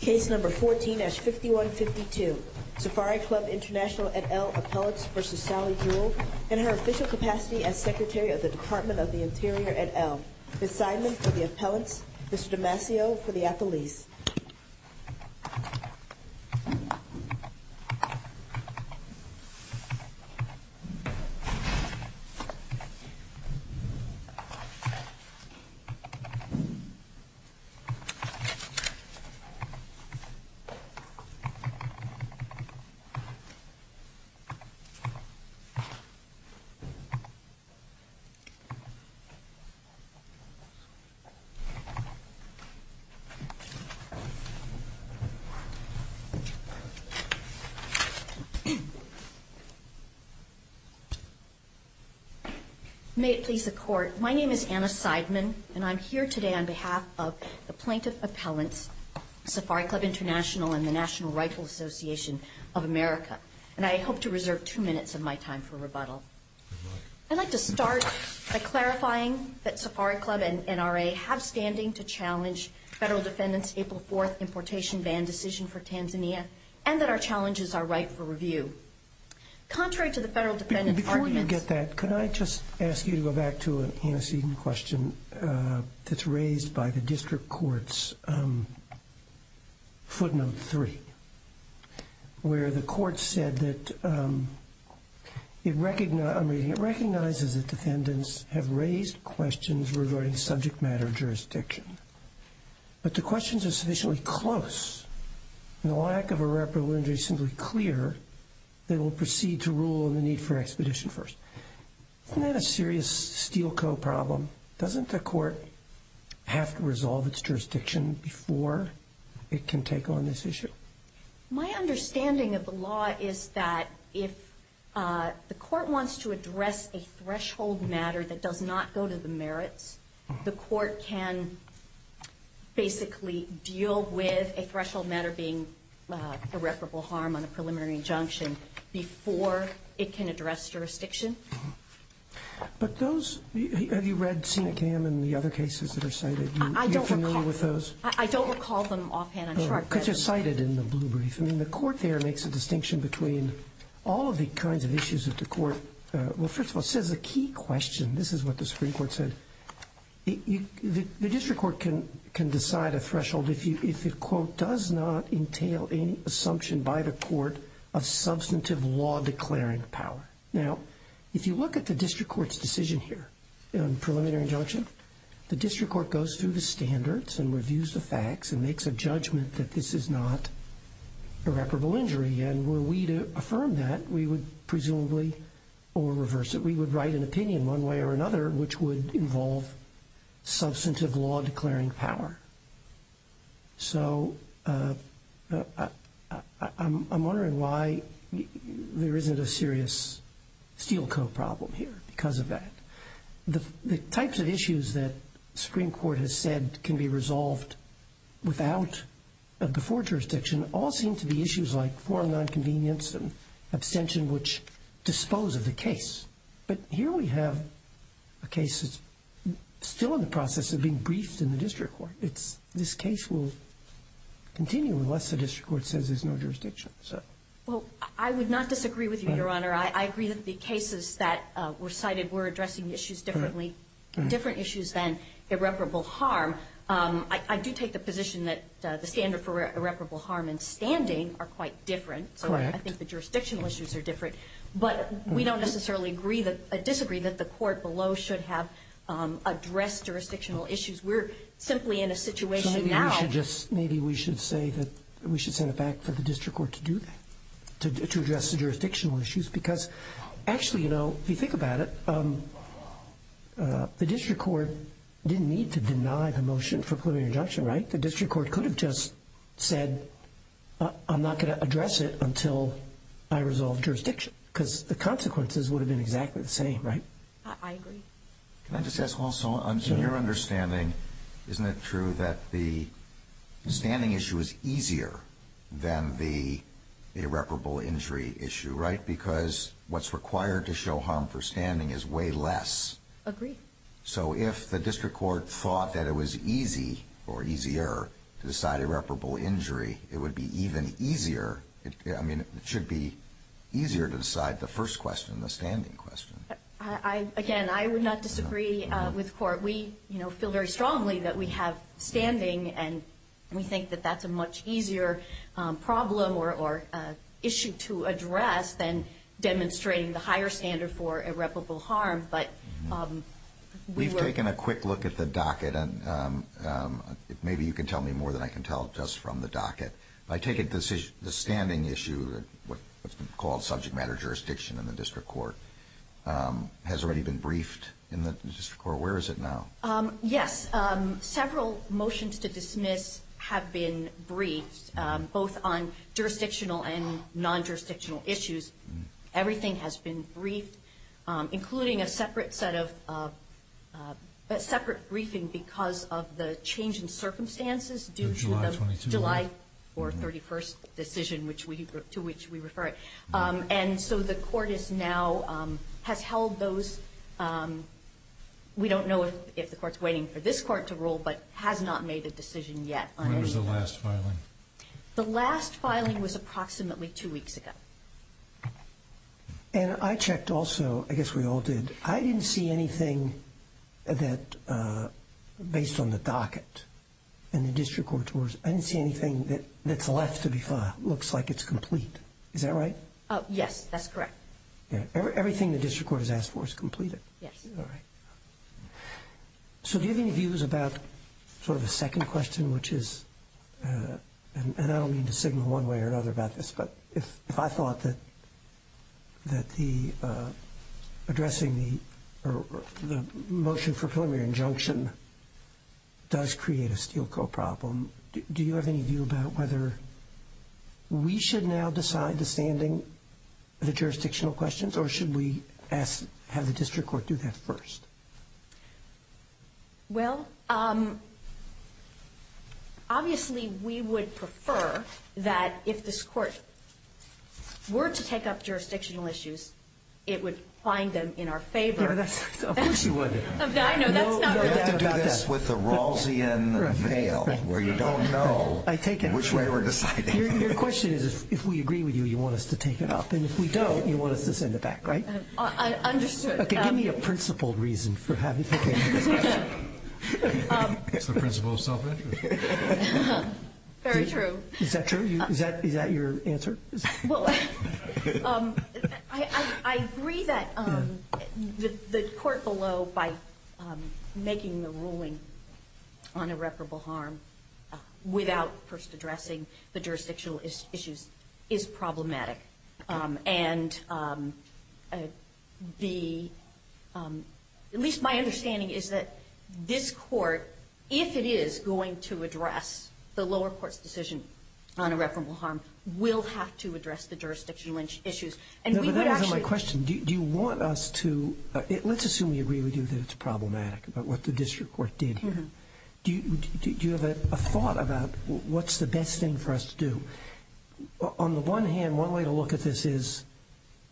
Case No. 14-5152, Safari Club International et al. appellants v. Sally Jewell in her official capacity as Secretary of the Department of the Interior et al. Ms. Simon for the appellants, Mr. Damasio for the athletes. May it please the Court, my name is Anna Sideman and I'm here today on behalf of the Plaintiff Appellants, Safari Club International and the National Rifle Association of America. And I hope to reserve two minutes of my time for rebuttal. I'd like to start by clarifying that Safari Club and NRA have standing to challenge Federal Defendant's April 4th importation ban decision for Tanzania and that our challenges are right for review. Contrary to the Federal Defendant's arguments... that's raised by the District Court's footnote 3, where the Court said that it recognizes that defendants have raised questions regarding subject matter of jurisdiction, but the questions are sufficiently close and the lack of a reparable injury is simply clear that it will proceed to rule on the need for expedition first. Isn't that a serious steel-co problem? Doesn't the Court have to resolve its jurisdiction before it can take on this issue? My understanding of the law is that if the Court wants to address a threshold matter that does not go to the merits, the Court can basically deal with a threshold matter being irreparable harm on a preliminary injunction before it can address jurisdiction. Have you read Senecam and the other cases that are cited? I don't recall them offhand. Because they're cited in the blue brief. I mean, the Court there makes a distinction between all of the kinds of issues that the Court... Well, first of all, it says a key question. This is what the Supreme Court said. The District Court can decide a threshold if it, quote, entail any assumption by the Court of substantive law declaring power. Now, if you look at the District Court's decision here on preliminary injunction, the District Court goes through the standards and reviews the facts and makes a judgment that this is not irreparable injury. And were we to affirm that, we would presumably, or reverse it, we would write an opinion one way or another which would involve substantive law declaring power. So I'm wondering why there isn't a serious Steel Co. problem here because of that. The types of issues that the Supreme Court has said can be resolved without, before jurisdiction, all seem to be issues like foreign nonconvenience and abstention which dispose of the case. But here we have a case that's still in the process of being briefed in the District Court. This case will continue unless the District Court says there's no jurisdiction. Well, I would not disagree with you, Your Honor. I agree that the cases that were cited were addressing issues differently, different issues than irreparable harm. I do take the position that the standard for irreparable harm and standing are quite different. Correct. So I think the jurisdictional issues are different. But we don't necessarily disagree that the court below should have addressed jurisdictional issues. We're simply in a situation now. So maybe we should say that we should send it back for the District Court to do that, to address the jurisdictional issues. Because actually, you know, if you think about it, the District Court didn't need to deny the motion for preliminary injunction, right? I think the District Court could have just said, I'm not going to address it until I resolve jurisdiction. Because the consequences would have been exactly the same, right? I agree. Can I just ask also, in your understanding, isn't it true that the standing issue is easier than the irreparable injury issue, right? Because what's required to show harm for standing is way less. Agree. So if the District Court thought that it was easy or easier to decide irreparable injury, it would be even easier. I mean, it should be easier to decide the first question, the standing question. Again, I would not disagree with the court. We feel very strongly that we have standing, and we think that that's a much easier problem or issue to address than demonstrating the higher standard for irreparable harm. We've taken a quick look at the docket, and maybe you can tell me more than I can tell just from the docket. I take it the standing issue, what's called subject matter jurisdiction in the District Court, has already been briefed in the District Court. Where is it now? Yes. Several motions to dismiss have been briefed, both on jurisdictional and non-jurisdictional issues. Everything has been briefed, including a separate briefing because of the change in circumstances due to the July 31st decision to which we refer it. And so the court now has held those. We don't know if the court's waiting for this court to rule, but has not made a decision yet. When was the last filing? The last filing was approximately two weeks ago. And I checked also. I guess we all did. I didn't see anything that, based on the docket in the District Court, I didn't see anything that's left to be filed. It looks like it's complete. Is that right? Yes, that's correct. Everything the District Court has asked for is completed. Yes. All right. So do you have any views about sort of a second question, which is, and I don't mean to signal one way or another about this, but if I thought that addressing the motion for preliminary injunction does create a Steel Co. problem, do you have any view about whether we should now decide the standing of the jurisdictional questions, or should we have the District Court do that first? Well, obviously we would prefer that if this court were to take up jurisdictional issues, it would find them in our favor. Of course you would. I know. You have to do this with a Rawlsian veil, where you don't know in which way we're deciding. Your question is, if we agree with you, you want us to take it up. And if we don't, you want us to send it back, right? Understood. Okay. Give me a principle reason for having this question. It's the principle of self-interest. Very true. Is that true? Is that your answer? Well, I agree that the court below, by making the ruling on irreparable harm, without first addressing the jurisdictional issues, is problematic. And the – at least my understanding is that this court, if it is going to address the lower court's decision on irreparable harm, will have to address the jurisdictional And we would actually – No, but that wasn't my question. Do you want us to – let's assume we agree with you that it's problematic, about what the District Court did here. Do you have a thought about what's the best thing for us to do? On the one hand, one way to look at this is,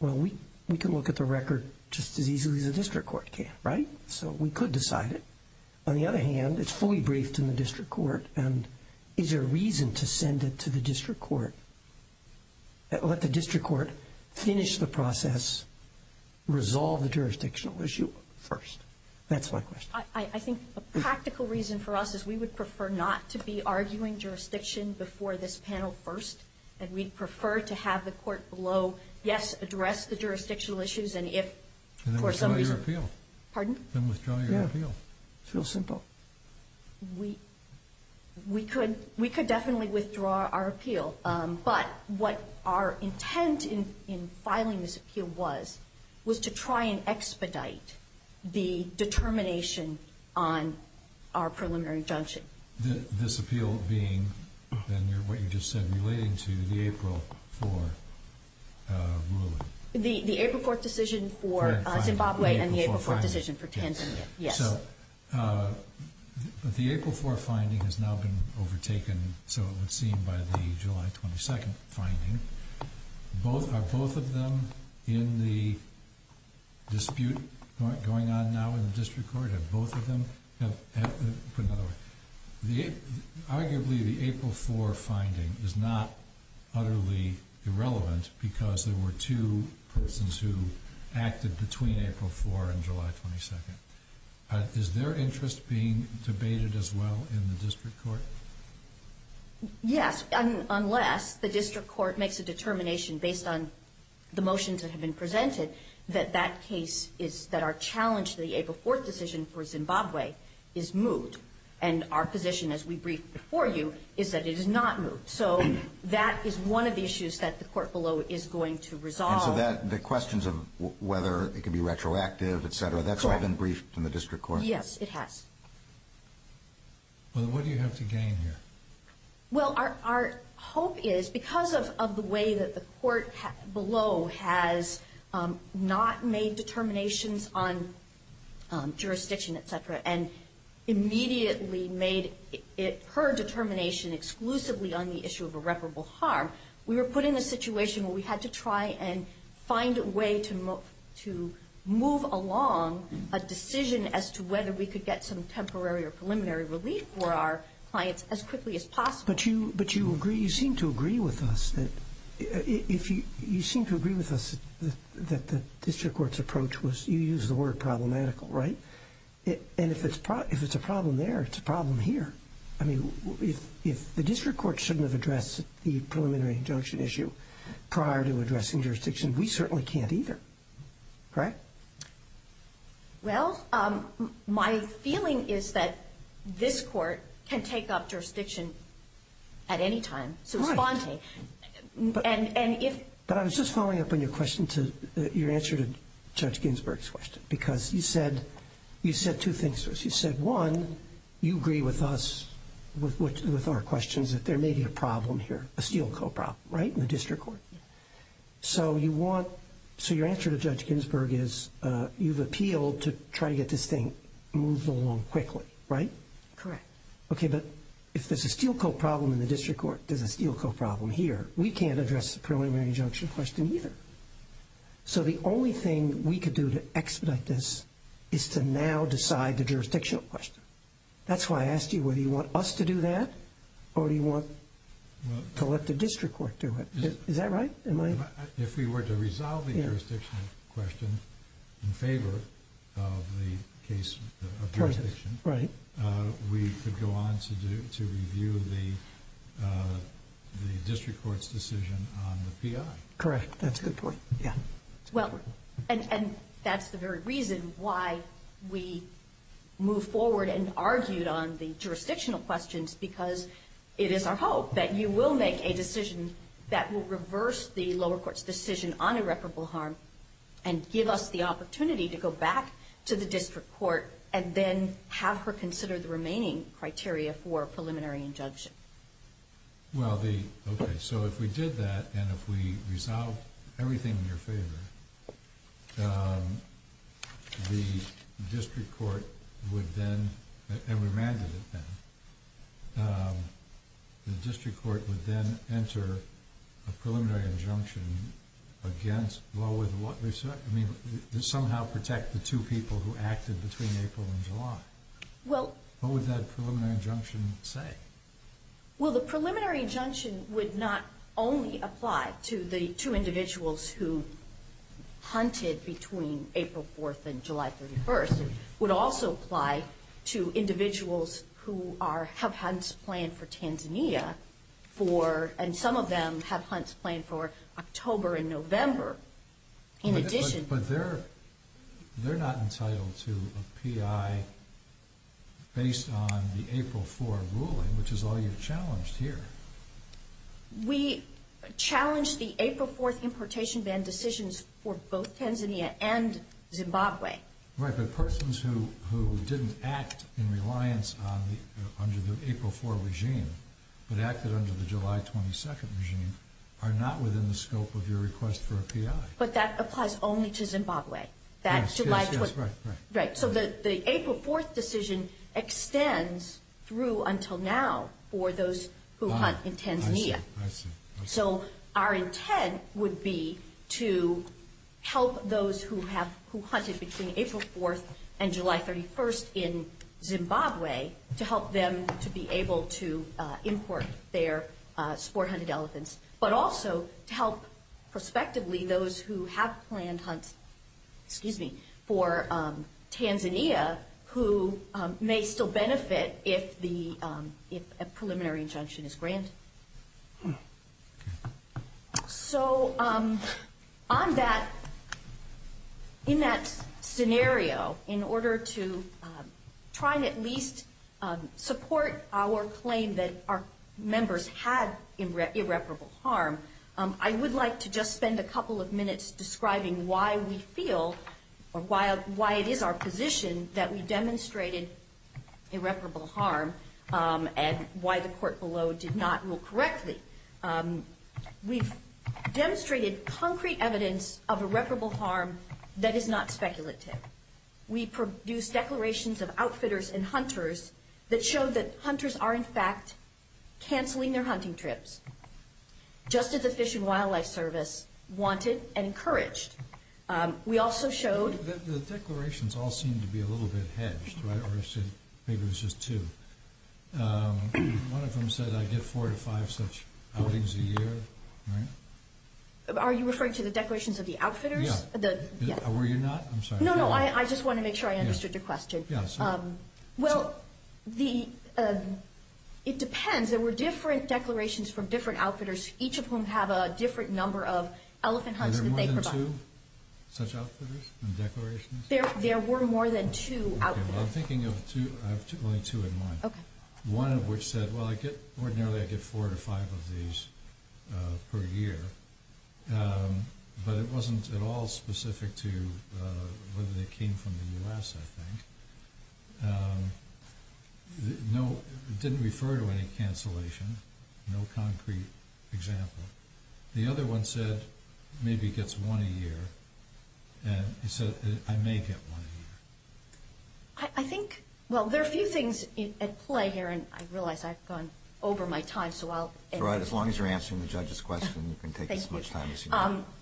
well, we can look at the record just as easily as the District Court can, right? So we could decide it. On the other hand, it's fully briefed in the District Court, and is there a reason to send it to the District Court, let the District Court finish the process, resolve the jurisdictional issue first? That's my question. I think a practical reason for us is we would prefer not to be arguing jurisdiction before this panel first, and we'd prefer to have the court below, yes, address the jurisdictional issues, and if for some reason – And then withdraw your appeal. Pardon? Then withdraw your appeal. Yeah. It's real simple. We could definitely withdraw our appeal. But what our intent in filing this appeal was, was to try and expedite the determination on our preliminary injunction. This appeal being, then, what you just said, relating to the April 4 ruling. The April 4 decision for Zimbabwe and the April 4 decision for Tanzania, yes. So the April 4 finding has now been overtaken, so it would seem, by the July 22 finding. Are both of them in the dispute going on now in the District Court? Have both of them – put it another way. Arguably, the April 4 finding is not utterly irrelevant because there were two persons who acted between April 4 and July 22. Is their interest being debated as well in the District Court? Yes, unless the District Court makes a determination based on the motions that have been presented that that case is – that our challenge to the April 4 decision for Zimbabwe is moved. And our position, as we briefed before you, is that it is not moved. So that is one of the issues that the court below is going to resolve. And so the questions of whether it can be retroactive, et cetera, that's all been briefed in the District Court? Yes, it has. Well, what do you have to gain here? Well, our hope is, because of the way that the court below has not made determinations on jurisdiction, et cetera, and immediately made it her determination exclusively on the issue of irreparable harm, we were put in a situation where we had to try and find a way to move along a decision as to whether we could get some temporary or preliminary relief for our clients as quickly as possible. But you agree – you seem to agree with us that – you seem to agree with us that the District Court's approach was – you use the word problematical, right? And if it's a problem there, it's a problem here. I mean, if the District Court shouldn't have addressed the preliminary injunction issue prior to addressing jurisdiction, we certainly can't either, correct? Well, my feeling is that this court can take up jurisdiction at any time. Right. So it's faunting. But I was just following up on your question to – your answer to Judge Ginsburg's question, because you said two things to us. You said, one, you agree with us, with our questions, that there may be a problem here, a steelcoat problem, right, in the District Court. So you want – so your answer to Judge Ginsburg is you've appealed to try to get this thing moved along quickly, right? Correct. Okay, but if there's a steelcoat problem in the District Court, there's a steelcoat problem here, we can't address the preliminary injunction question either. So the only thing we could do to expedite this is to now decide the jurisdictional question. That's why I asked you whether you want us to do that or do you want to let the District Court do it. Is that right? If we were to resolve the jurisdictional question in favor of the case of jurisdiction, we could go on to review the District Court's decision on the PI. Correct. That's a good point. Well, and that's the very reason why we move forward and argued on the jurisdictional questions, because it is our hope that you will make a decision that will reverse the lower court's decision on irreparable harm and give us the opportunity to go back to the District Court and then have her consider the remaining criteria for a preliminary injunction. Well, okay, so if we did that and if we resolved everything in your favor, the District Court would then enter a preliminary injunction against, well, somehow protect the two people who acted between April and July. What would that preliminary injunction say? Well, the preliminary injunction would not only apply to the two individuals who hunted between April 4th and July 31st. It would also apply to individuals who have hunts planned for Tanzania, and some of them have hunts planned for October and November. But they're not entitled to a PI based on the April 4 ruling, which is all you've challenged here. We challenged the April 4th importation ban decisions for both Tanzania and Zimbabwe. Right, but persons who didn't act in reliance under the April 4 regime but acted under the July 22nd regime are not within the scope of your request for a PI. But that applies only to Zimbabwe. Yes, yes, right, right. So the April 4th decision extends through until now for those who hunt in Tanzania. I see, I see. So our intent would be to help those who hunted between April 4th and July 31st in Zimbabwe to help them to be able to import their sport hunted elephants, but also to help prospectively those who have planned hunts for Tanzania who may still benefit if a preliminary injunction is granted. So in that scenario, in order to try to at least support our claim that our members had irreparable harm, I would like to just spend a couple of minutes describing why we feel, or why it is our position that we demonstrated irreparable harm and why the court below did not rule correctly. We've demonstrated concrete evidence of irreparable harm that is not speculative. We produced declarations of outfitters and hunters that showed that hunters are, in fact, canceling their hunting trips just as the Fish and Wildlife Service wanted and encouraged. We also showed that the declarations all seem to be a little bit hedged, right, or maybe it was just two. One of them said, I get four to five such outings a year, right? Are you referring to the declarations of the outfitters? Yeah. Were you not? I'm sorry. No, no, I just want to make sure I understood your question. Yeah, sorry. Well, it depends. There were different declarations from different outfitters, each of whom have a different number of elephant hunts that they provide. Were there more than two such outfitters and declarations? There were more than two outfitters. Okay, well, I'm thinking of two. I have only two in mind. One of which said, well, ordinarily I get four to five of these per year, but it wasn't at all specific to whether they came from the U.S., I think. It didn't refer to any cancellation, no concrete example. The other one said, maybe gets one a year, and he said, I may get one a year. I think, well, there are a few things at play here, and I realize I've gone over my time. That's all right. As long as you're answering the judge's question, you can take as much time as you want. Thank you.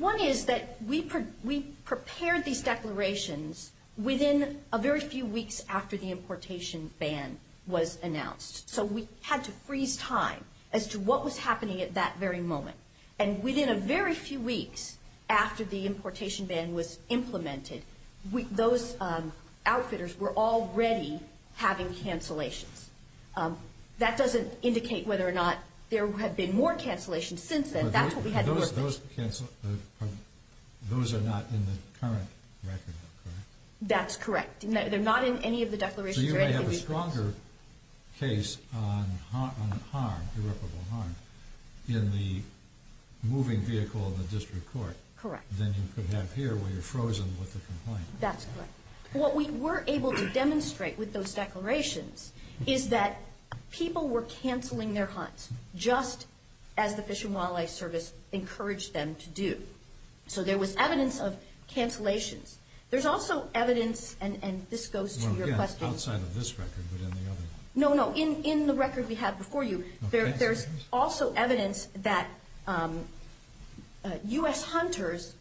One is that we prepared these declarations within a very few weeks after the importation ban was announced. So we had to freeze time as to what was happening at that very moment. And within a very few weeks after the importation ban was implemented, those outfitters were already having cancellations. That doesn't indicate whether or not there have been more cancellations since then. That's what we had in mind. Those are not in the current record, correct? That's correct. They're not in any of the declarations or anything. So you may have a stronger case on harm, irreparable harm, in the moving vehicle in the district court. Correct. Than you could have here where you're frozen with the complaint. That's correct. What we were able to demonstrate with those declarations is that people were canceling their hunts, just as the Fish and Wildlife Service encouraged them to do. So there was evidence of cancellations. There's also evidence, and this goes to your question. Yes, outside of this record, but in the other one. No, no, in the record we had before you, there's also evidence that U.S. hunters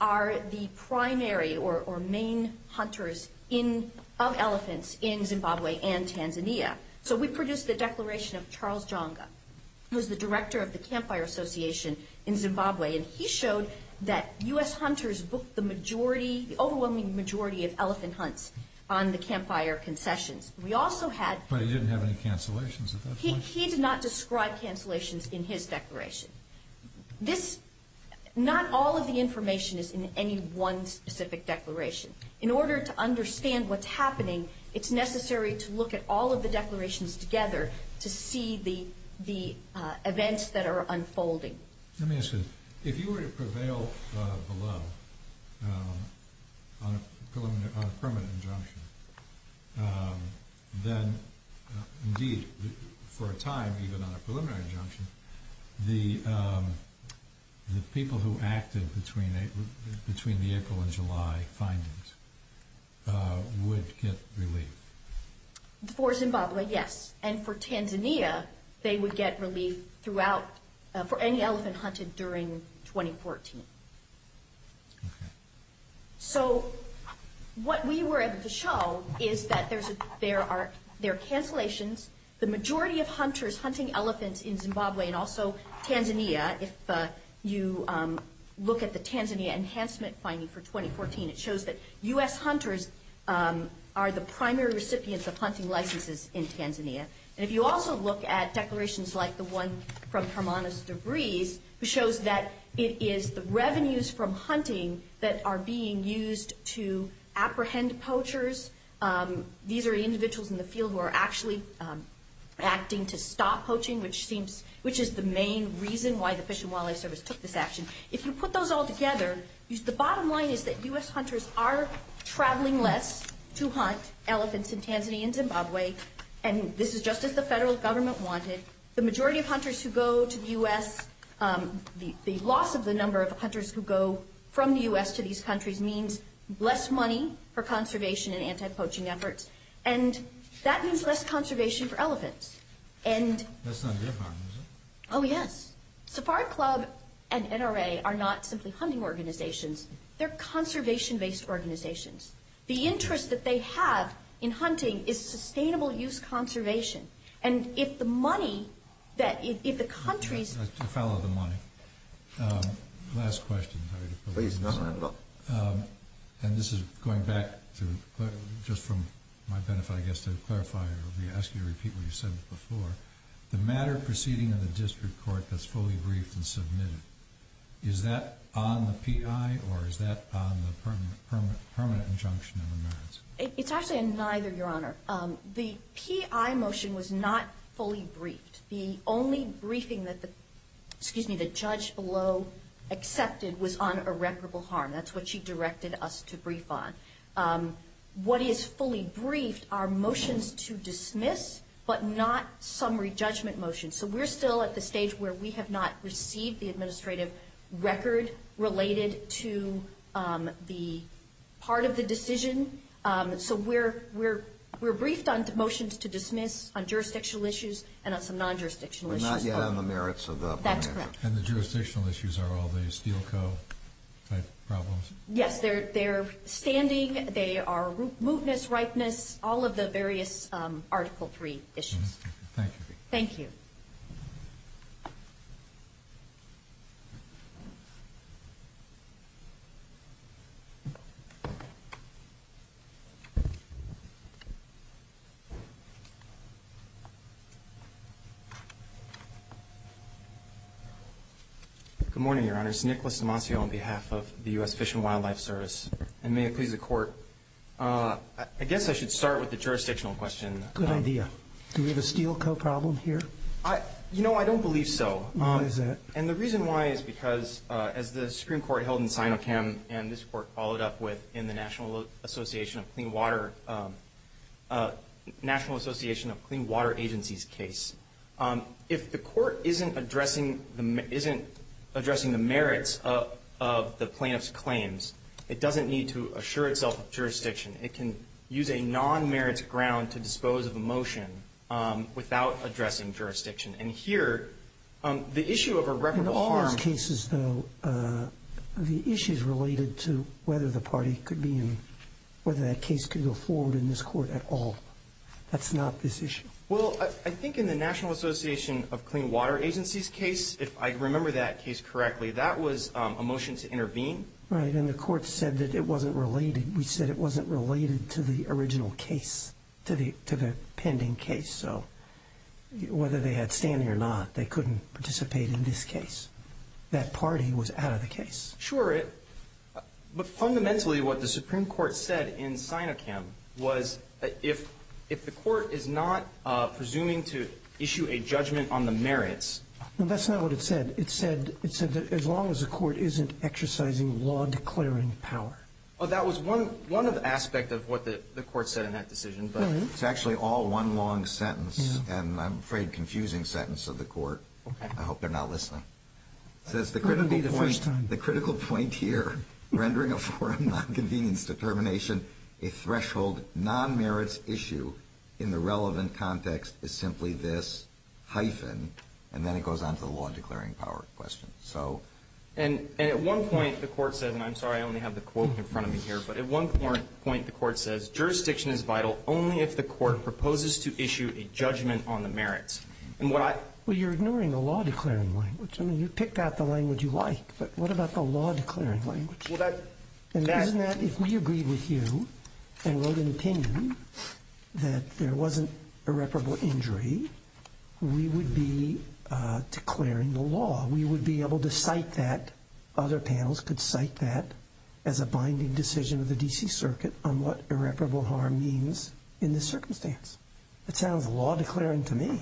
are the primary or main hunters of elephants in Zimbabwe and Tanzania. So we produced the declaration of Charles Jonga, who is the director of the Campfire Association in Zimbabwe, and he showed that U.S. hunters booked the overwhelming majority of elephant hunts on the campfire concessions. But he didn't have any cancellations at that point. He did not describe cancellations in his declaration. Not all of the information is in any one specific declaration. In order to understand what's happening, it's necessary to look at all of the declarations together to see the events that are unfolding. Let me ask you this. If you were to prevail below on a permanent injunction, then indeed for a time, even on a preliminary injunction, the people who acted between the April and July findings would get relief. For Zimbabwe, yes. And for Tanzania, they would get relief for any elephant hunted during 2014. So what we were able to show is that there are cancellations. The majority of hunters hunting elephants in Zimbabwe and also Tanzania, if you look at the Tanzania enhancement finding for 2014, it shows that U.S. hunters are the primary recipients of hunting licenses in Tanzania. And if you also look at declarations like the one from Hermanus De Vries, it shows that it is the revenues from hunting that are being used to apprehend poachers. These are individuals in the field who are actually acting to stop poaching, which is the main reason why the Fish and Wildlife Service took this action. If you put those all together, the bottom line is that U.S. hunters are traveling less to hunt elephants in Tanzania and Zimbabwe. And this is just as the federal government wanted. The majority of hunters who go to the U.S. The loss of the number of hunters who go from the U.S. to these countries means less money for conservation and anti-poaching efforts. And that means less conservation for elephants. That's not their problem, is it? Oh, yes. Safari Club and NRA are not simply hunting organizations. They're conservation-based organizations. The interest that they have in hunting is sustainable use conservation. And if the money that if the countries I'd like to follow the money. Last question. And this is going back to just from my benefit, I guess, to clarify. I'll be asking you to repeat what you said before. The matter proceeding in the district court that's fully briefed and submitted. Is that on the P.I. or is that on the permanent injunction of the merits? It's actually a neither, Your Honor. The P.I. motion was not fully briefed. The only briefing that the judge below accepted was on irreparable harm. That's what she directed us to brief on. What is fully briefed are motions to dismiss, but not summary judgment motions. So we're still at the stage where we have not received the administrative record related to the part of the decision. So we're briefed on the motions to dismiss, on jurisdictional issues, and on some non-jurisdictional issues. But not yet on the merits of the permanent injunction. That's correct. And the jurisdictional issues are all the Steel Co. type problems? Yes, they're standing. They are mootness, ripeness, all of the various Article III issues. Thank you. Thank you. Good morning, Your Honors. Nicholas Demasio on behalf of the U.S. Fish and Wildlife Service. And may it please the Court, I guess I should start with the jurisdictional question. Good idea. Do we have a Steel Co. problem here? You know, I don't believe so. Why is that? And the reason why is because, as the Supreme Court held in Sinochem, and this Court followed up with in the National Association of Clean Water Agencies case, if the Court isn't addressing the merits of the plaintiff's claims, it doesn't need to assure itself of jurisdiction. It can use a non-merits ground to dispose of a motion without addressing jurisdiction. And here, the issue of irreparable harm. In all those cases, though, the issue is related to whether the party could be in, whether that case could go forward in this Court at all. That's not this issue. Well, I think in the National Association of Clean Water Agencies case, if I remember that case correctly, that was a motion to intervene. Right, and the Court said that it wasn't related. We said it wasn't related to the original case, to the pending case. So whether they had standing or not, they couldn't participate in this case. That party was out of the case. Sure. But fundamentally, what the Supreme Court said in Sinochem was if the Court is not presuming to issue a judgment on the merits. No, that's not what it said. It said that as long as the Court isn't exercising law-declaring power. Well, that was one aspect of what the Court said in that decision, but it's actually all one long sentence, and I'm afraid confusing sentence of the Court. Okay. I hope they're not listening. It says the critical point here, rendering a foreign non-convenience determination a threshold non-merits issue in the relevant context is simply this hyphen, and then it goes on to the law-declaring power question. And at one point the Court said, and I'm sorry I only have the quote in front of me here, but at one point the Court says, Jurisdiction is vital only if the Court proposes to issue a judgment on the merits. Well, you're ignoring the law-declaring language. I mean, you've picked out the language you like, but what about the law-declaring language? Isn't that if we agreed with you and wrote an opinion that there wasn't irreparable injury, we would be declaring the law. We would be able to cite that. Other panels could cite that as a binding decision of the D.C. Circuit on what irreparable harm means in this circumstance. That sounds law-declaring to me.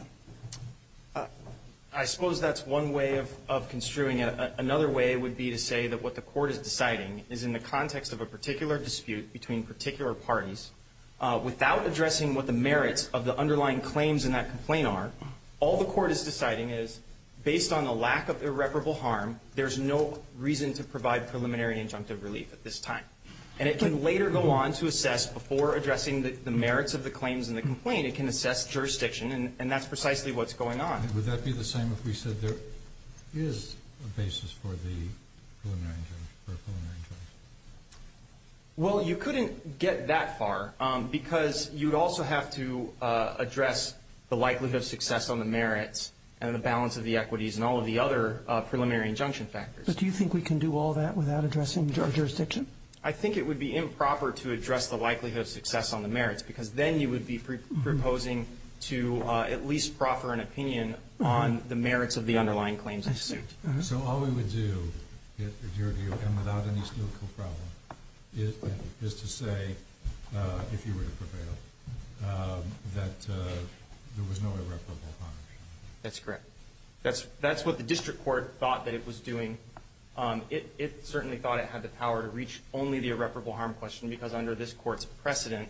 I suppose that's one way of construing it. Another way would be to say that what the Court is deciding is in the context of a particular dispute between particular parties, without addressing what the merits of the underlying claims in that complaint are, all the Court is deciding is based on the lack of irreparable harm, there's no reason to provide preliminary injunctive relief at this time. And it can later go on to assess before addressing the merits of the claims in the complaint, it can assess jurisdiction, and that's precisely what's going on. Would that be the same if we said there is a basis for the preliminary injunctive relief? Well, you couldn't get that far, because you'd also have to address the likelihood of success on the merits and the balance of the equities and all of the other preliminary injunction factors. But do you think we can do all that without addressing the jurisdiction? Because then you would be proposing to at least proffer an opinion on the merits of the underlying claims in the suit. So all we would do, in your view, and without any skillful problem, is to say, if you were to prevail, that there was no irreparable harm? That's correct. That's what the district court thought that it was doing. It certainly thought it had the power to reach only the irreparable harm question, because under this court's precedent,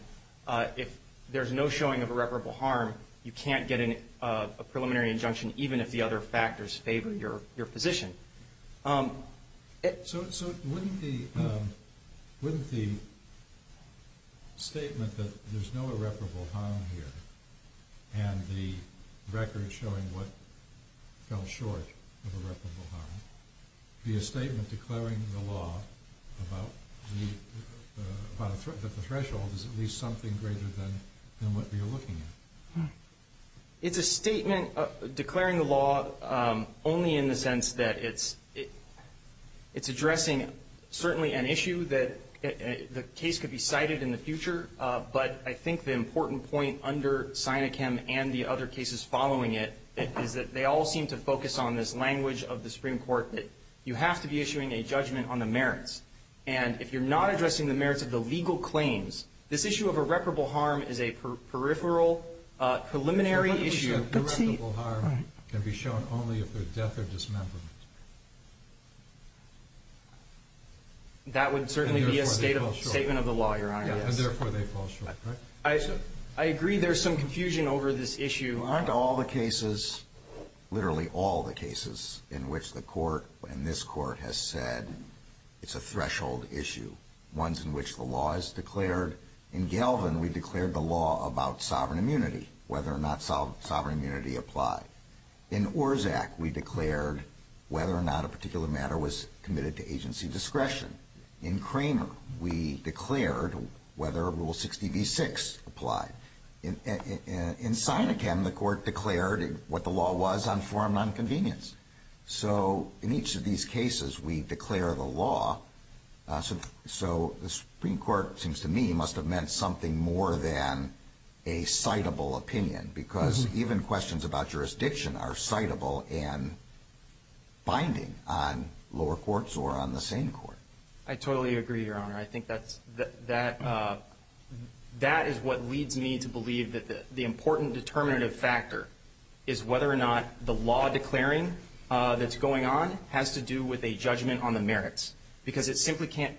if there's no showing of irreparable harm, you can't get a preliminary injunction even if the other factors favor your position. So wouldn't the statement that there's no irreparable harm here and the record showing what fell short of irreparable harm be a statement declaring the law about the threshold as at least something greater than what we are looking at? It's a statement declaring the law only in the sense that it's addressing certainly an issue that the case could be cited in the future, but I think the important point under Sinachem and the other cases following it is that they all seem to focus on this language of the Supreme Court that you have to be issuing a judgment on the merits. And if you're not addressing the merits of the legal claims, this issue of irreparable harm is a peripheral preliminary issue. But irreparable harm can be shown only if there's death or dismemberment. That would certainly be a statement of the law, Your Honor. And therefore they fall short, correct? I agree there's some confusion over this issue. Aren't all the cases, literally all the cases in which the court and this court has said it's a threshold issue, ones in which the law is declared? In Galvin, we declared the law about sovereign immunity, whether or not sovereign immunity applied. In Orszag, we declared whether or not a particular matter was committed to agency discretion. In Cramer, we declared whether Rule 60b-6 applied. In Sinachem, the court declared what the law was on forum nonconvenience. So in each of these cases, we declare the law. So the Supreme Court, it seems to me, must have meant something more than a citable opinion, because even questions about jurisdiction are citable and binding on lower courts or on the same court. I totally agree, Your Honor. I think that is what leads me to believe that the important determinative factor is whether or not the law declaring that's going on has to do with a judgment on the merits, because it simply can't.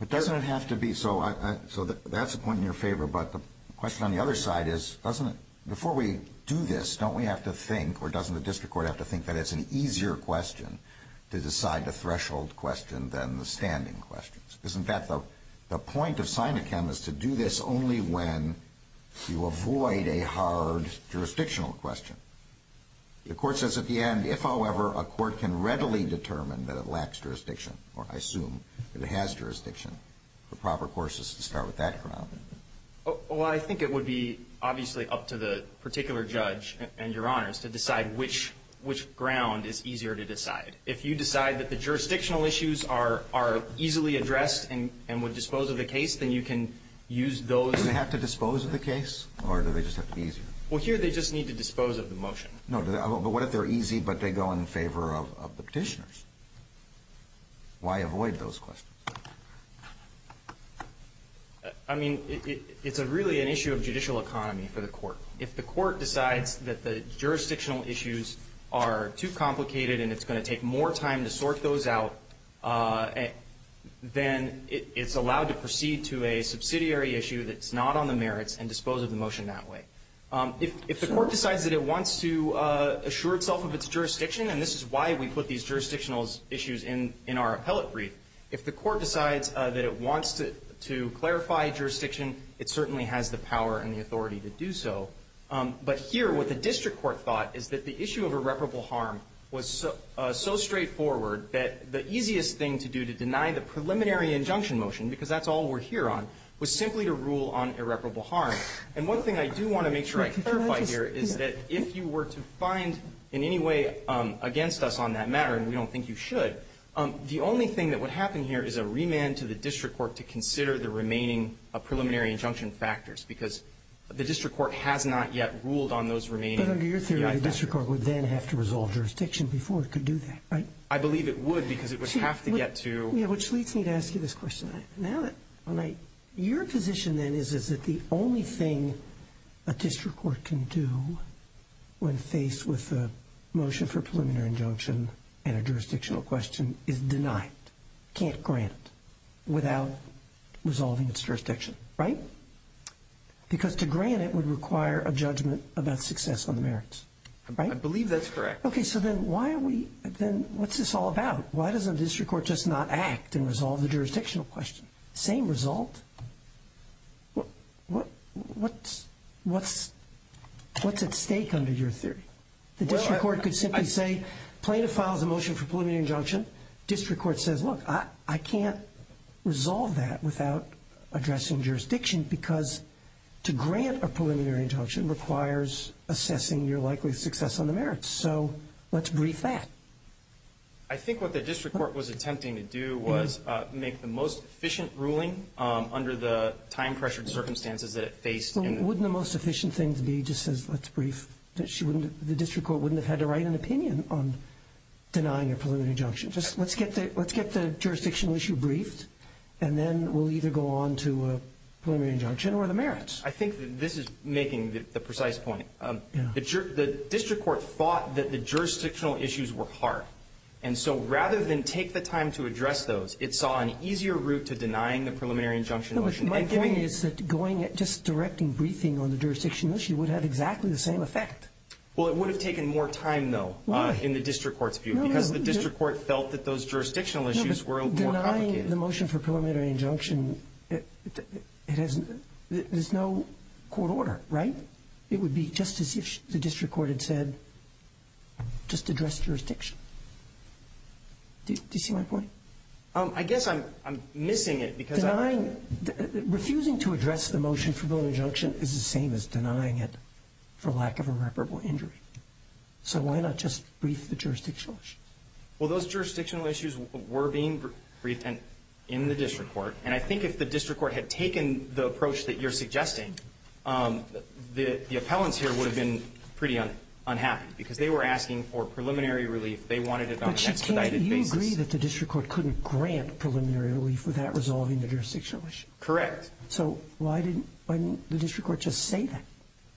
But doesn't it have to be? So that's a point in your favor, but the question on the other side is, doesn't it, before we do this, don't we have to think, or doesn't the district court have to think that it's an easier question to decide the threshold question than the standing questions? Because, in fact, the point of Sinachem is to do this only when you avoid a hard jurisdictional question. The Court says at the end, if, however, a court can readily determine that it lacks jurisdiction, or I assume that it has jurisdiction, the proper course is to start with that ground. Well, I think it would be obviously up to the particular judge and Your Honors to decide which ground is easier to decide. If you decide that the jurisdictional issues are easily addressed and would dispose of the case, then you can use those. Do they have to dispose of the case, or do they just have to be easier? Well, here they just need to dispose of the motion. No, but what if they're easy, but they go in favor of the Petitioners? Why avoid those questions? I mean, it's really an issue of judicial economy for the Court. If the Court decides that the jurisdictional issues are too complicated and it's going to take more time to sort those out, then it's allowed to proceed to a subsidiary issue that's not on the merits and dispose of the motion that way. If the Court decides that it wants to assure itself of its jurisdiction, and this is why we put these jurisdictional issues in our appellate brief, if the Court decides that it wants to clarify jurisdiction, it certainly has the power and the authority to do so. But here, what the district court thought is that the issue of irreparable harm was so straightforward that the easiest thing to do to deny the preliminary injunction motion, because that's all we're here on, was simply to rule on irreparable harm. And one thing I do want to make sure I clarify here is that if you were to find in any way against us on that matter, and we don't think you should, the only thing that would happen here is a remand to the district court to consider the remaining preliminary injunction factors, because the district court has not yet ruled on those remaining factors. But under your theory, the district court would then have to resolve jurisdiction before it could do that, right? I believe it would, because it would have to get to ---- Let me ask you this question. Now that your position, then, is that the only thing a district court can do when faced with a motion for preliminary injunction and a jurisdictional question is deny it, can't grant it, without resolving its jurisdiction, right? Because to grant it would require a judgment about success on the merits, right? I believe that's correct. Okay, so then why are we, then, what's this all about? Why doesn't a district court just not act and resolve the jurisdictional question? Same result. What's at stake under your theory? The district court could simply say plaintiff files a motion for preliminary injunction. District court says, look, I can't resolve that without addressing jurisdiction because to grant a preliminary injunction requires assessing your likely success on the merits. So let's brief that. I think what the district court was attempting to do was make the most efficient ruling under the time-pressured circumstances that it faced. Wouldn't the most efficient thing to be just says let's brief? The district court wouldn't have had to write an opinion on denying a preliminary injunction. Just let's get the jurisdictional issue briefed, and then we'll either go on to a preliminary injunction or the merits. I think this is making the precise point. The district court thought that the jurisdictional issues were hard. And so rather than take the time to address those, it saw an easier route to denying the preliminary injunction motion. My point is that just directing briefing on the jurisdictional issue would have exactly the same effect. Well, it would have taken more time, though, in the district court's view because the district court felt that those jurisdictional issues were more complicated. Denying the motion for preliminary injunction, there's no court order, right? It would be just as if the district court had said just address jurisdiction. Do you see my point? I guess I'm missing it. Denying, refusing to address the motion for preliminary injunction is the same as denying it for lack of a reparable injury. So why not just brief the jurisdictional issue? Well, those jurisdictional issues were being briefed in the district court. And I think if the district court had taken the approach that you're suggesting, the appellants here would have been pretty unhappy, because they were asking for preliminary relief. They wanted it on an expedited basis. Can't you agree that the district court couldn't grant preliminary relief without resolving the jurisdictional issue? Correct. So why didn't the district court just say that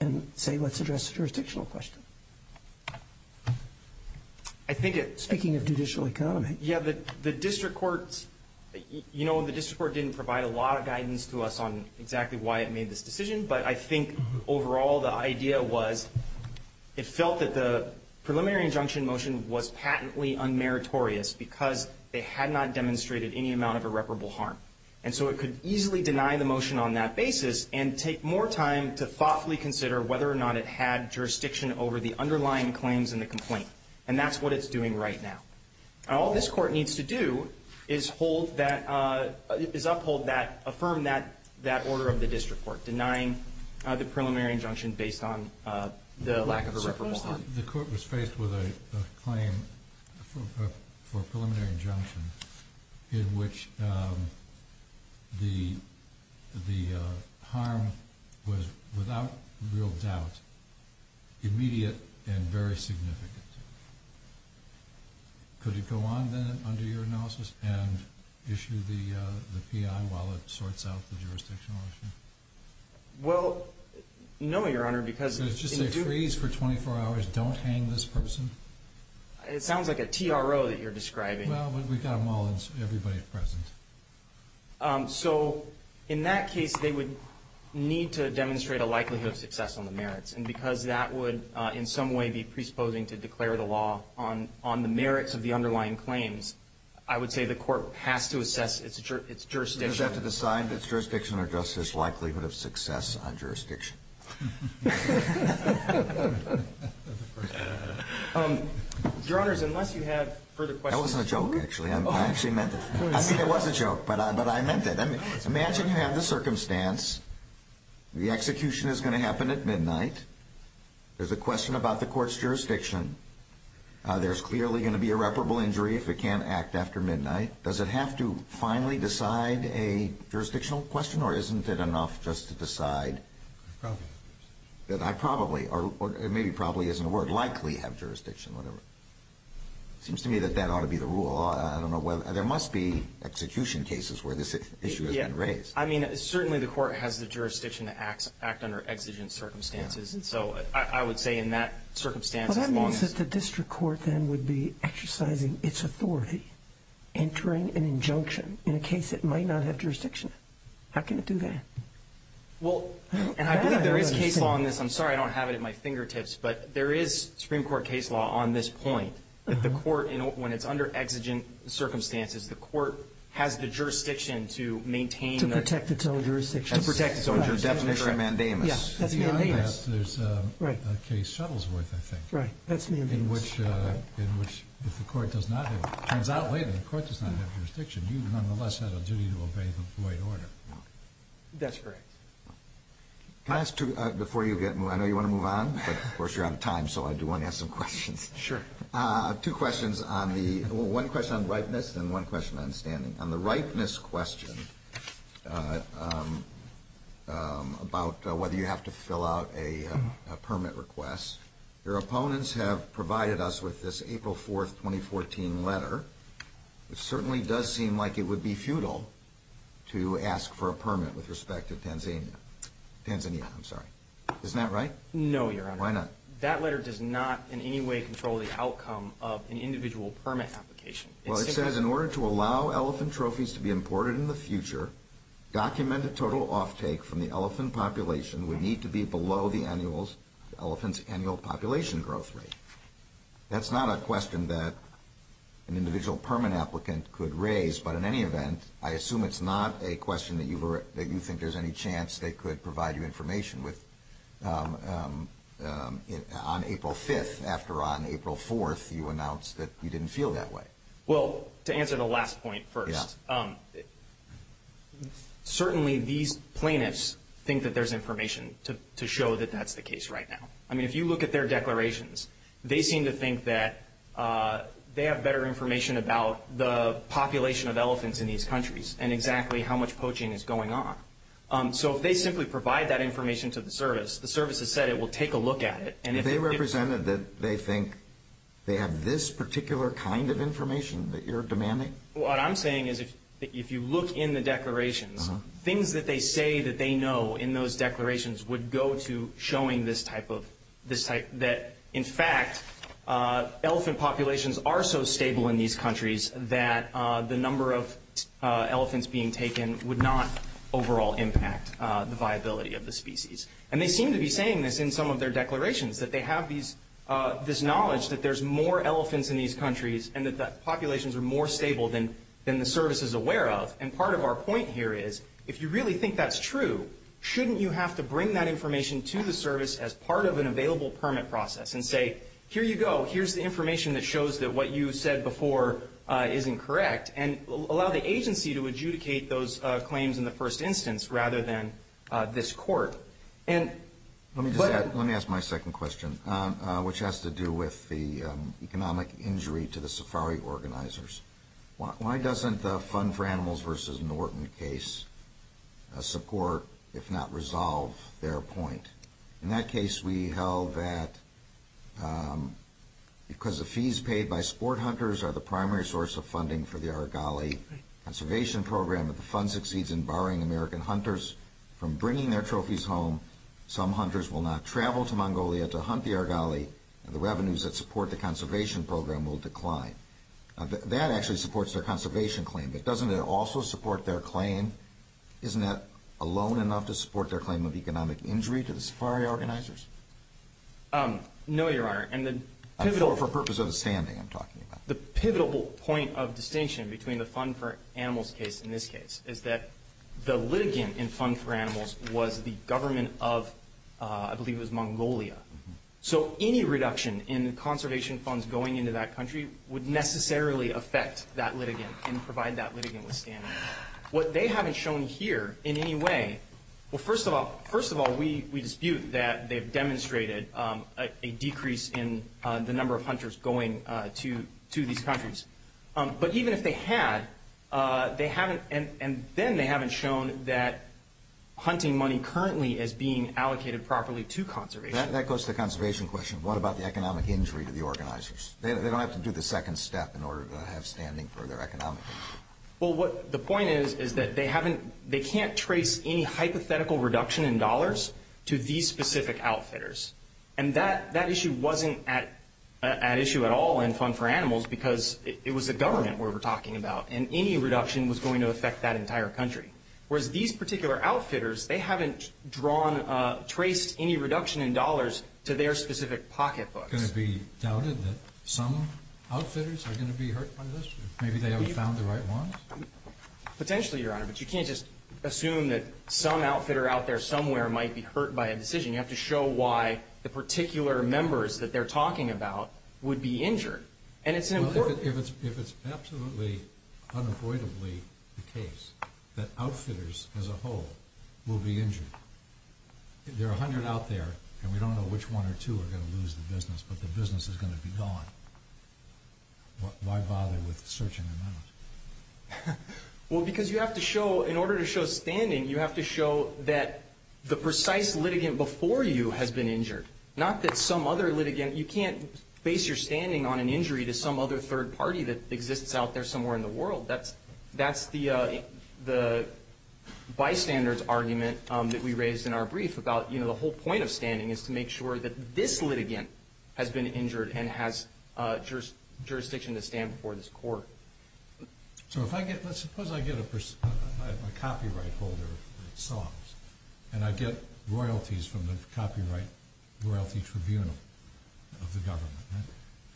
and say let's address the jurisdictional question? I think it's... Speaking of judicial economy. Yeah. The district court, you know, the district court didn't provide a lot of guidance to us on exactly why it made this decision. But I think overall the idea was it felt that the preliminary injunction motion was patently unmeritorious because it had not demonstrated any amount of irreparable harm. And so it could easily deny the motion on that basis and take more time to thoughtfully consider whether or not it had jurisdiction over the underlying claims in the complaint. And that's what it's doing right now. All this court needs to do is uphold that, affirm that order of the district court, denying the preliminary injunction based on the lack of irreparable harm. The court was faced with a claim for a preliminary injunction in which the harm was without real doubt immediate and very significant. Could it go on then under your analysis and issue the P.I. while it sorts out the jurisdictional issue? Well, no, Your Honor, because... So it's just a freeze for 24 hours, don't hang this person? It sounds like a T.R.O. that you're describing. Well, we've got them all and everybody's present. So in that case, they would need to demonstrate a likelihood of success on the merits. And because that would in some way be presupposing to declare the law on the merits of the underlying claims, I would say the court has to assess its jurisdiction. Does the court have to decide its jurisdiction or just its likelihood of success on jurisdiction? Your Honors, unless you have further questions... That wasn't a joke, actually. I actually meant it. I mean, it was a joke, but I meant it. Imagine you have the circumstance. The execution is going to happen at midnight. There's a question about the court's jurisdiction. There's clearly going to be irreparable injury if it can't act after midnight. Does it have to finally decide a jurisdictional question, or isn't it enough just to decide that I probably, or maybe probably isn't a word, likely have jurisdiction, whatever? It seems to me that that ought to be the rule. I don't know whether or not. There must be execution cases where this issue has been raised. Yeah. I mean, certainly the court has the jurisdiction to act under exigent circumstances. And so I would say in that circumstance, as long as... entering an injunction in a case that might not have jurisdiction, how can it do that? Well, and I believe there is case law on this. I'm sorry I don't have it at my fingertips, but there is Supreme Court case law on this point that the court, when it's under exigent circumstances, the court has the jurisdiction to maintain... To protect its own jurisdiction. To protect its own jurisdiction. Definition. Mandamus. Yeah, that's Mandamus. There's a case, Shuttlesworth, I think. Right. That's Mandamus. In which, if the court does not have... Turns out later, the court does not have jurisdiction. You nonetheless have a duty to obey the Floyd order. That's correct. Can I ask two... Before you get... I know you want to move on, but of course you're out of time, so I do want to ask some questions. Sure. Two questions on the... One question on ripeness and one question on standing. On the ripeness question about whether you have to fill out a permit request, your opponents have provided us with this April 4th, 2014 letter. It certainly does seem like it would be futile to ask for a permit with respect to Tanzania. Tanzania, I'm sorry. Isn't that right? No, Your Honor. Why not? That letter does not in any way control the outcome of an individual permit application. Well, it says, in order to allow elephant trophies to be imported in the future, document the total offtake from the elephant population would need to be below the elephant's annual population growth rate. That's not a question that an individual permit applicant could raise, but in any event, I assume it's not a question that you think there's any chance they could provide you information with. On April 5th, after on April 4th, you announced that you didn't feel that way. Well, to answer the last point first, certainly these plaintiffs think that there's information to show that that's the case right now. I mean, if you look at their declarations, they seem to think that they have better information about the population of elephants in these countries and exactly how much poaching is going on. So if they simply provide that information to the service, the service has said it will take a look at it. They represented that they think they have this particular kind of information that you're demanding. What I'm saying is if you look in the declarations, things that they say that they know in those declarations would go to showing this type of this type that, in fact, elephant populations are so stable in these countries that the number of elephants being taken would not overall impact the viability of the species. And they seem to be saying this in some of their declarations, that they have this knowledge that there's more elephants in these countries and that the populations are more stable than the service is aware of. And part of our point here is, if you really think that's true, shouldn't you have to bring that information to the service as part of an available permit process and say, here you go, here's the information that shows that what you said before isn't correct, and allow the agency to adjudicate those claims in the first instance rather than this court? Let me ask my second question, which has to do with the economic injury to the safari organizers. Why doesn't the Fund for Animals v. Norton case support, if not resolve, their point? In that case, we held that because the fees paid by sport hunters are the primary source of funding for the Argali conservation program, if the fund succeeds in barring American hunters from bringing their trophies home, some hunters will not travel to Mongolia to hunt the Argali, and the revenues that support the conservation program will decline. That actually supports their conservation claim, but doesn't it also support their claim? Isn't that alone enough to support their claim of economic injury to the safari organizers? No, Your Honor. For the purpose of standing, I'm talking about. The pivotal point of distinction between the Fund for Animals case and this case is that the litigant in Fund for Animals was the government of, I believe it was Mongolia. So any reduction in conservation funds going into that country would necessarily affect that litigant and provide that litigant with standing. What they haven't shown here in any way, well, first of all, we dispute that they've demonstrated a decrease in the number of hunters going to these countries. But even if they had, they haven't, and then they haven't shown that hunting money currently is being allocated properly to conservation. That goes to the conservation question. What about the economic injury to the organizers? They don't have to do the second step in order to have standing for their economic injury. Well, what the point is is that they haven't, they can't trace any hypothetical reduction in dollars to these specific outfitters. And that issue wasn't at issue at all in Fund for Animals because it was the government we were talking about. And any reduction was going to affect that entire country. Whereas these particular outfitters, they haven't drawn, traced any reduction in dollars to their specific pocketbooks. Is it going to be doubted that some outfitters are going to be hurt by this? Maybe they haven't found the right ones? Potentially, Your Honor, but you can't just assume that some outfitter out there somewhere might be hurt by a decision. You have to show why the particular members that they're talking about would be injured. And it's important. Well, if it's absolutely unavoidably the case that outfitters as a whole will be injured. There are a hundred out there, and we don't know which one or two are going to lose the business, but the business is going to be gone. Why bother with searching them out? Well, because you have to show, in order to show standing, you have to show that the precise litigant before you has been injured. Not that some other litigant, you can't base your standing on an injury to some other third party that exists out there somewhere in the world. That's the bystander's argument that we raised in our brief about, you know, the whole point of standing is to make sure that this litigant has been injured and has jurisdiction to stand before this court. So if I get, let's suppose I get a copyright holder, and I get royalties from the Copyright Royalty Tribunal of the government,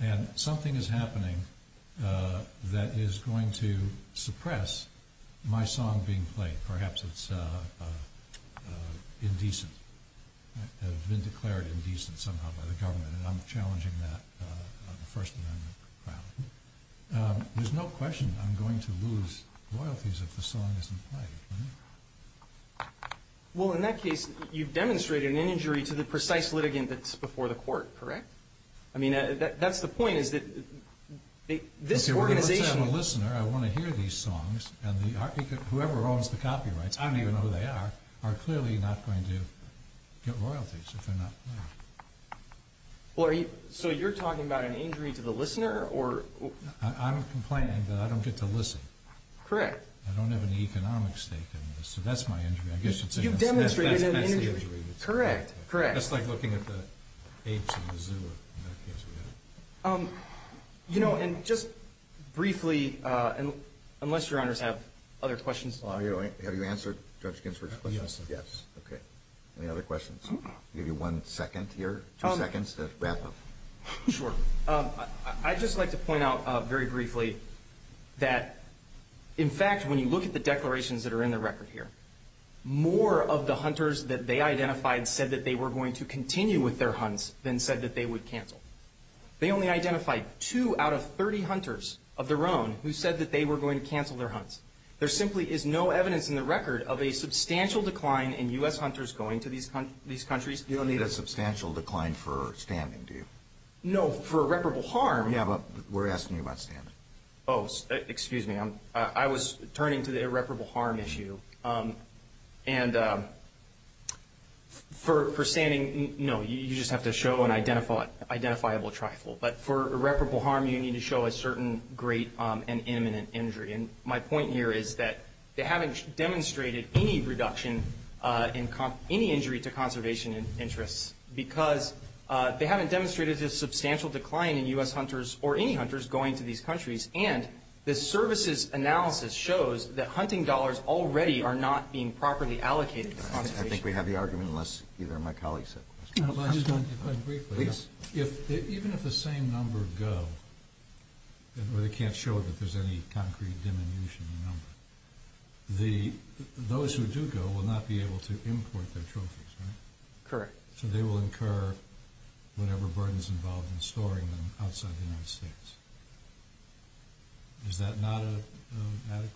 and something is happening that is going to suppress my song being played, perhaps it's indecent, has been declared indecent somehow by the government, and I'm challenging that on the First Amendment. There's no question I'm going to lose royalties if the song isn't played. Well, in that case, you've demonstrated an injury to the precise litigant that's before the court, correct? I mean, that's the point, is that this organization... Okay, well, if it's a listener, I want to hear these songs, and whoever owns the copyrights, I don't even know who they are, are clearly not going to get royalties if they're not played. Well, are you, so you're talking about an injury to the listener, or... I'm complaining that I don't get to listen. Correct. I don't have an economic stake in this, so that's my injury. You've demonstrated an injury. That's the injury. Correct, correct. That's like looking at the apes in the zoo, in that case. You know, and just briefly, unless your honors have other questions. Have you answered Judge Ginsburg's question? Yes. Okay, any other questions? I'll give you one second here, two seconds to wrap up. Sure. I'd just like to point out very briefly that, in fact, when you look at the declarations that are in the record here, more of the hunters that they identified said that they were going to continue with their hunts than said that they would cancel. They only identified two out of 30 hunters of their own who said that they were going to cancel their hunts. There simply is no evidence in the record of a substantial decline in U.S. hunters going to these countries. You don't need a substantial decline for standing, do you? No, for irreparable harm. Yeah, but we're asking you about standing. Oh, excuse me. I was turning to the irreparable harm issue. And for standing, no, you just have to show an identifiable trifle. But for irreparable harm, you need to show a certain great and imminent injury. And my point here is that they haven't demonstrated any reduction in any injury to conservation interests because they haven't demonstrated a substantial decline in U.S. hunters or any hunters going to these countries, and the services analysis shows that hunting dollars already are not being properly allocated to conservation. I think we have the argument, unless either of my colleagues have questions. If I could just point briefly, even if the same number go, where they can't show that there's any concrete diminution in the number, those who do go will not be able to import their trophies, right? Correct. So they will incur whatever burden is involved in storing them outside the United States. Is that not an adequate?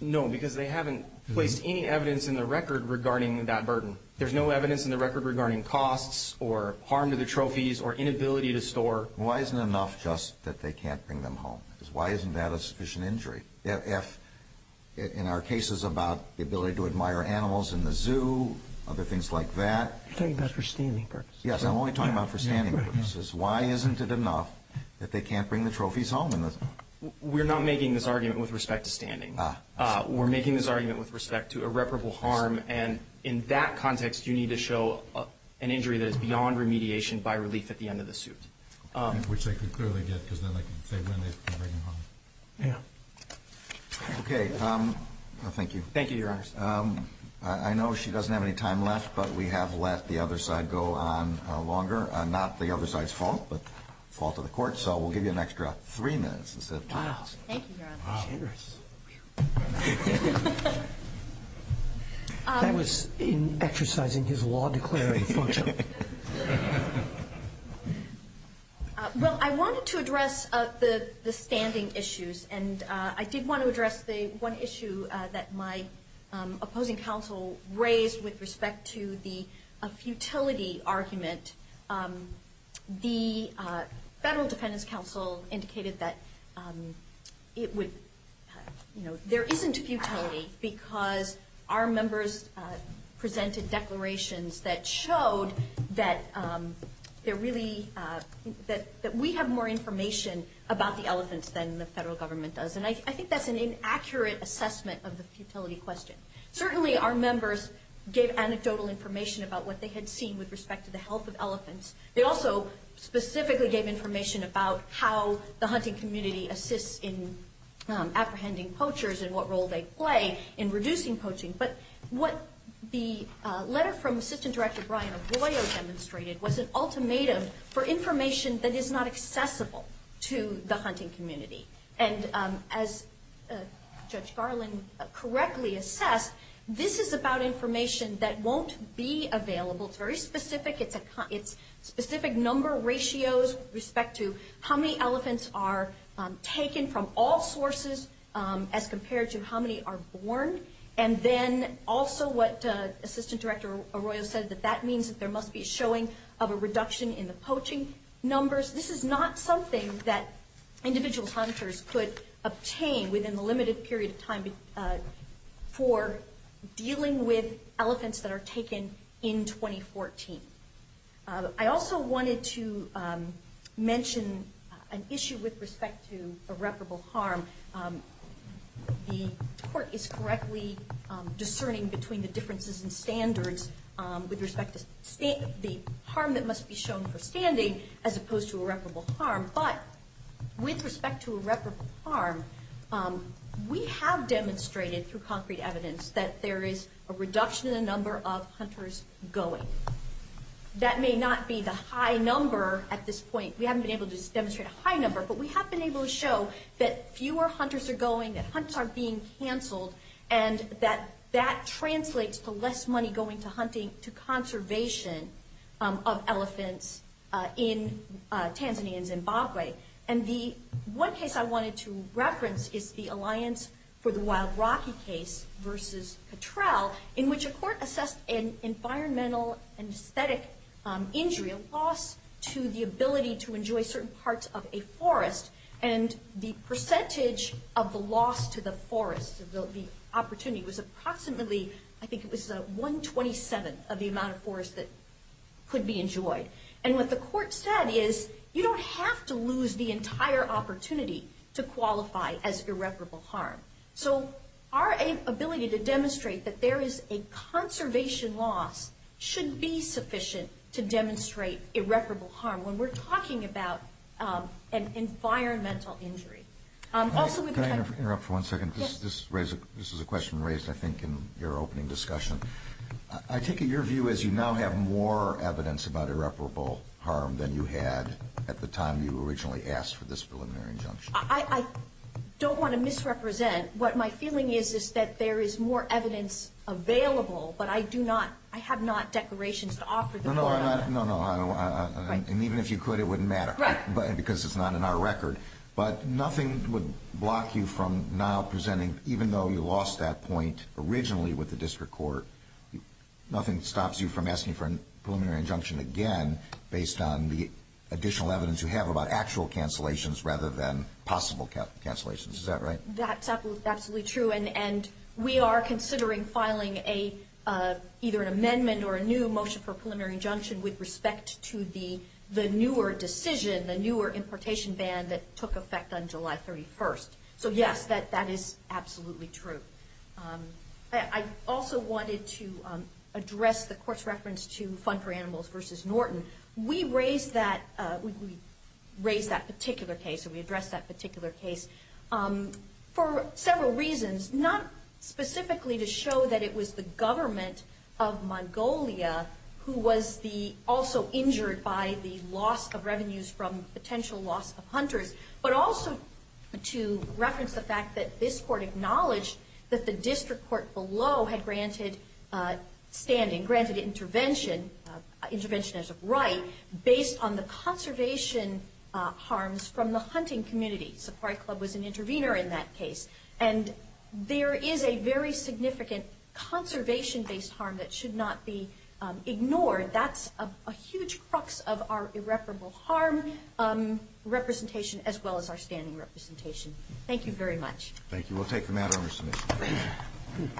No, because they haven't placed any evidence in the record regarding that burden. There's no evidence in the record regarding costs or harm to the trophies or inability to store. Why isn't enough just that they can't bring them home? Why isn't that a sufficient injury? In our cases about the ability to admire animals in the zoo, other things like that. You're talking about for standing purposes. Yes, I'm only talking about for standing purposes. Why isn't it enough that they can't bring the trophies home? We're not making this argument with respect to standing. We're making this argument with respect to irreparable harm, and in that context you need to show an injury that is beyond remediation by relief at the end of the suit. Which they could clearly get because then they can say when they can bring them home. Yeah. Thank you. Thank you, Your Honor. I know she doesn't have any time left, but we have let the other side go on longer. Not the other side's fault, but the fault of the court, so we'll give you an extra three minutes instead of two minutes. Wow. Thank you, Your Honor. Cheers. That was in exercising his law declaring function. Well, I wanted to address the standing issues, and I did want to address the one issue that my opposing counsel raised with respect to the futility argument. The Federal Defendant's Counsel indicated that there isn't futility because our members presented declarations that showed that we have more information about the elephants than the federal government does, and I think that's an inaccurate assessment of the futility question. Certainly, our members gave anecdotal information about what they had seen with respect to the health of elephants. They also specifically gave information about how the hunting community assists in apprehending poachers and what role they play in reducing poaching, but what the letter from Assistant Director Brian Arroyo demonstrated was an ultimatum for information that is not accessible to the hunting community. And as Judge Garland correctly assessed, this is about information that won't be available. It's very specific. It's specific number ratios with respect to how many elephants are taken from all sources as compared to how many are born, and then also what Assistant Director Arroyo said, that that means that there must be a showing of a reduction in the poaching numbers. This is not something that individual hunters could obtain within the limited period of time for dealing with elephants that are taken in 2014. I also wanted to mention an issue with respect to irreparable harm. The court is correctly discerning between the differences in standards with respect to the harm that must be shown for standing as opposed to irreparable harm, but with respect to irreparable harm, we have demonstrated through concrete evidence that there is a reduction in the number of hunters going. That may not be the high number at this point. We haven't been able to demonstrate a high number, but we have been able to show that fewer hunters are going, that hunts are being canceled, and that that translates to less money going to hunting, to conservation of elephants in Tanzania and Zimbabwe. The one case I wanted to reference is the Alliance for the Wild Rocky case versus Cattrall, in which a court assessed an environmental and aesthetic injury, a loss to the ability to enjoy certain parts of a forest, and the percentage of the loss to the forest, the opportunity, was approximately, I think it was 127 of the amount of forest that could be enjoyed. And what the court said is, you don't have to lose the entire opportunity to qualify as irreparable harm. So our ability to demonstrate that there is a conservation loss should be sufficient to demonstrate irreparable harm. When we're talking about an environmental injury. Can I interrupt for one second? Yes. This is a question raised, I think, in your opening discussion. I take it your view is you now have more evidence about irreparable harm than you had at the time you originally asked for this preliminary injunction. I don't want to misrepresent. What my feeling is is that there is more evidence available, but I do not, I have not declarations to offer the court on that. No, no, and even if you could, it wouldn't matter. Right. Because it's not in our record. But nothing would block you from now presenting, even though you lost that point originally with the district court, nothing stops you from asking for a preliminary injunction again based on the additional evidence you have about actual cancellations rather than possible cancellations. Is that right? That's absolutely true. And we are considering filing either an amendment or a new motion for a preliminary injunction with respect to the newer decision, the newer importation ban that took effect on July 31st. So, yes, that is absolutely true. I also wanted to address the court's reference to Fund for Animals v. Norton. We raised that particular case or we addressed that particular case for several reasons, not specifically to show that it was the government of Mongolia who was also injured by the loss of revenues from potential loss of hunters, but also to reference the fact that this court acknowledged that the district court below had granted standing, granted intervention, intervention as a right, based on the conservation harms from the hunting community. Safari Club was an intervener in that case. And there is a very significant conservation-based harm that should not be ignored. That's a huge crux of our irreparable harm representation as well as our standing representation. Thank you very much. Thank you. We'll take the matter under submission.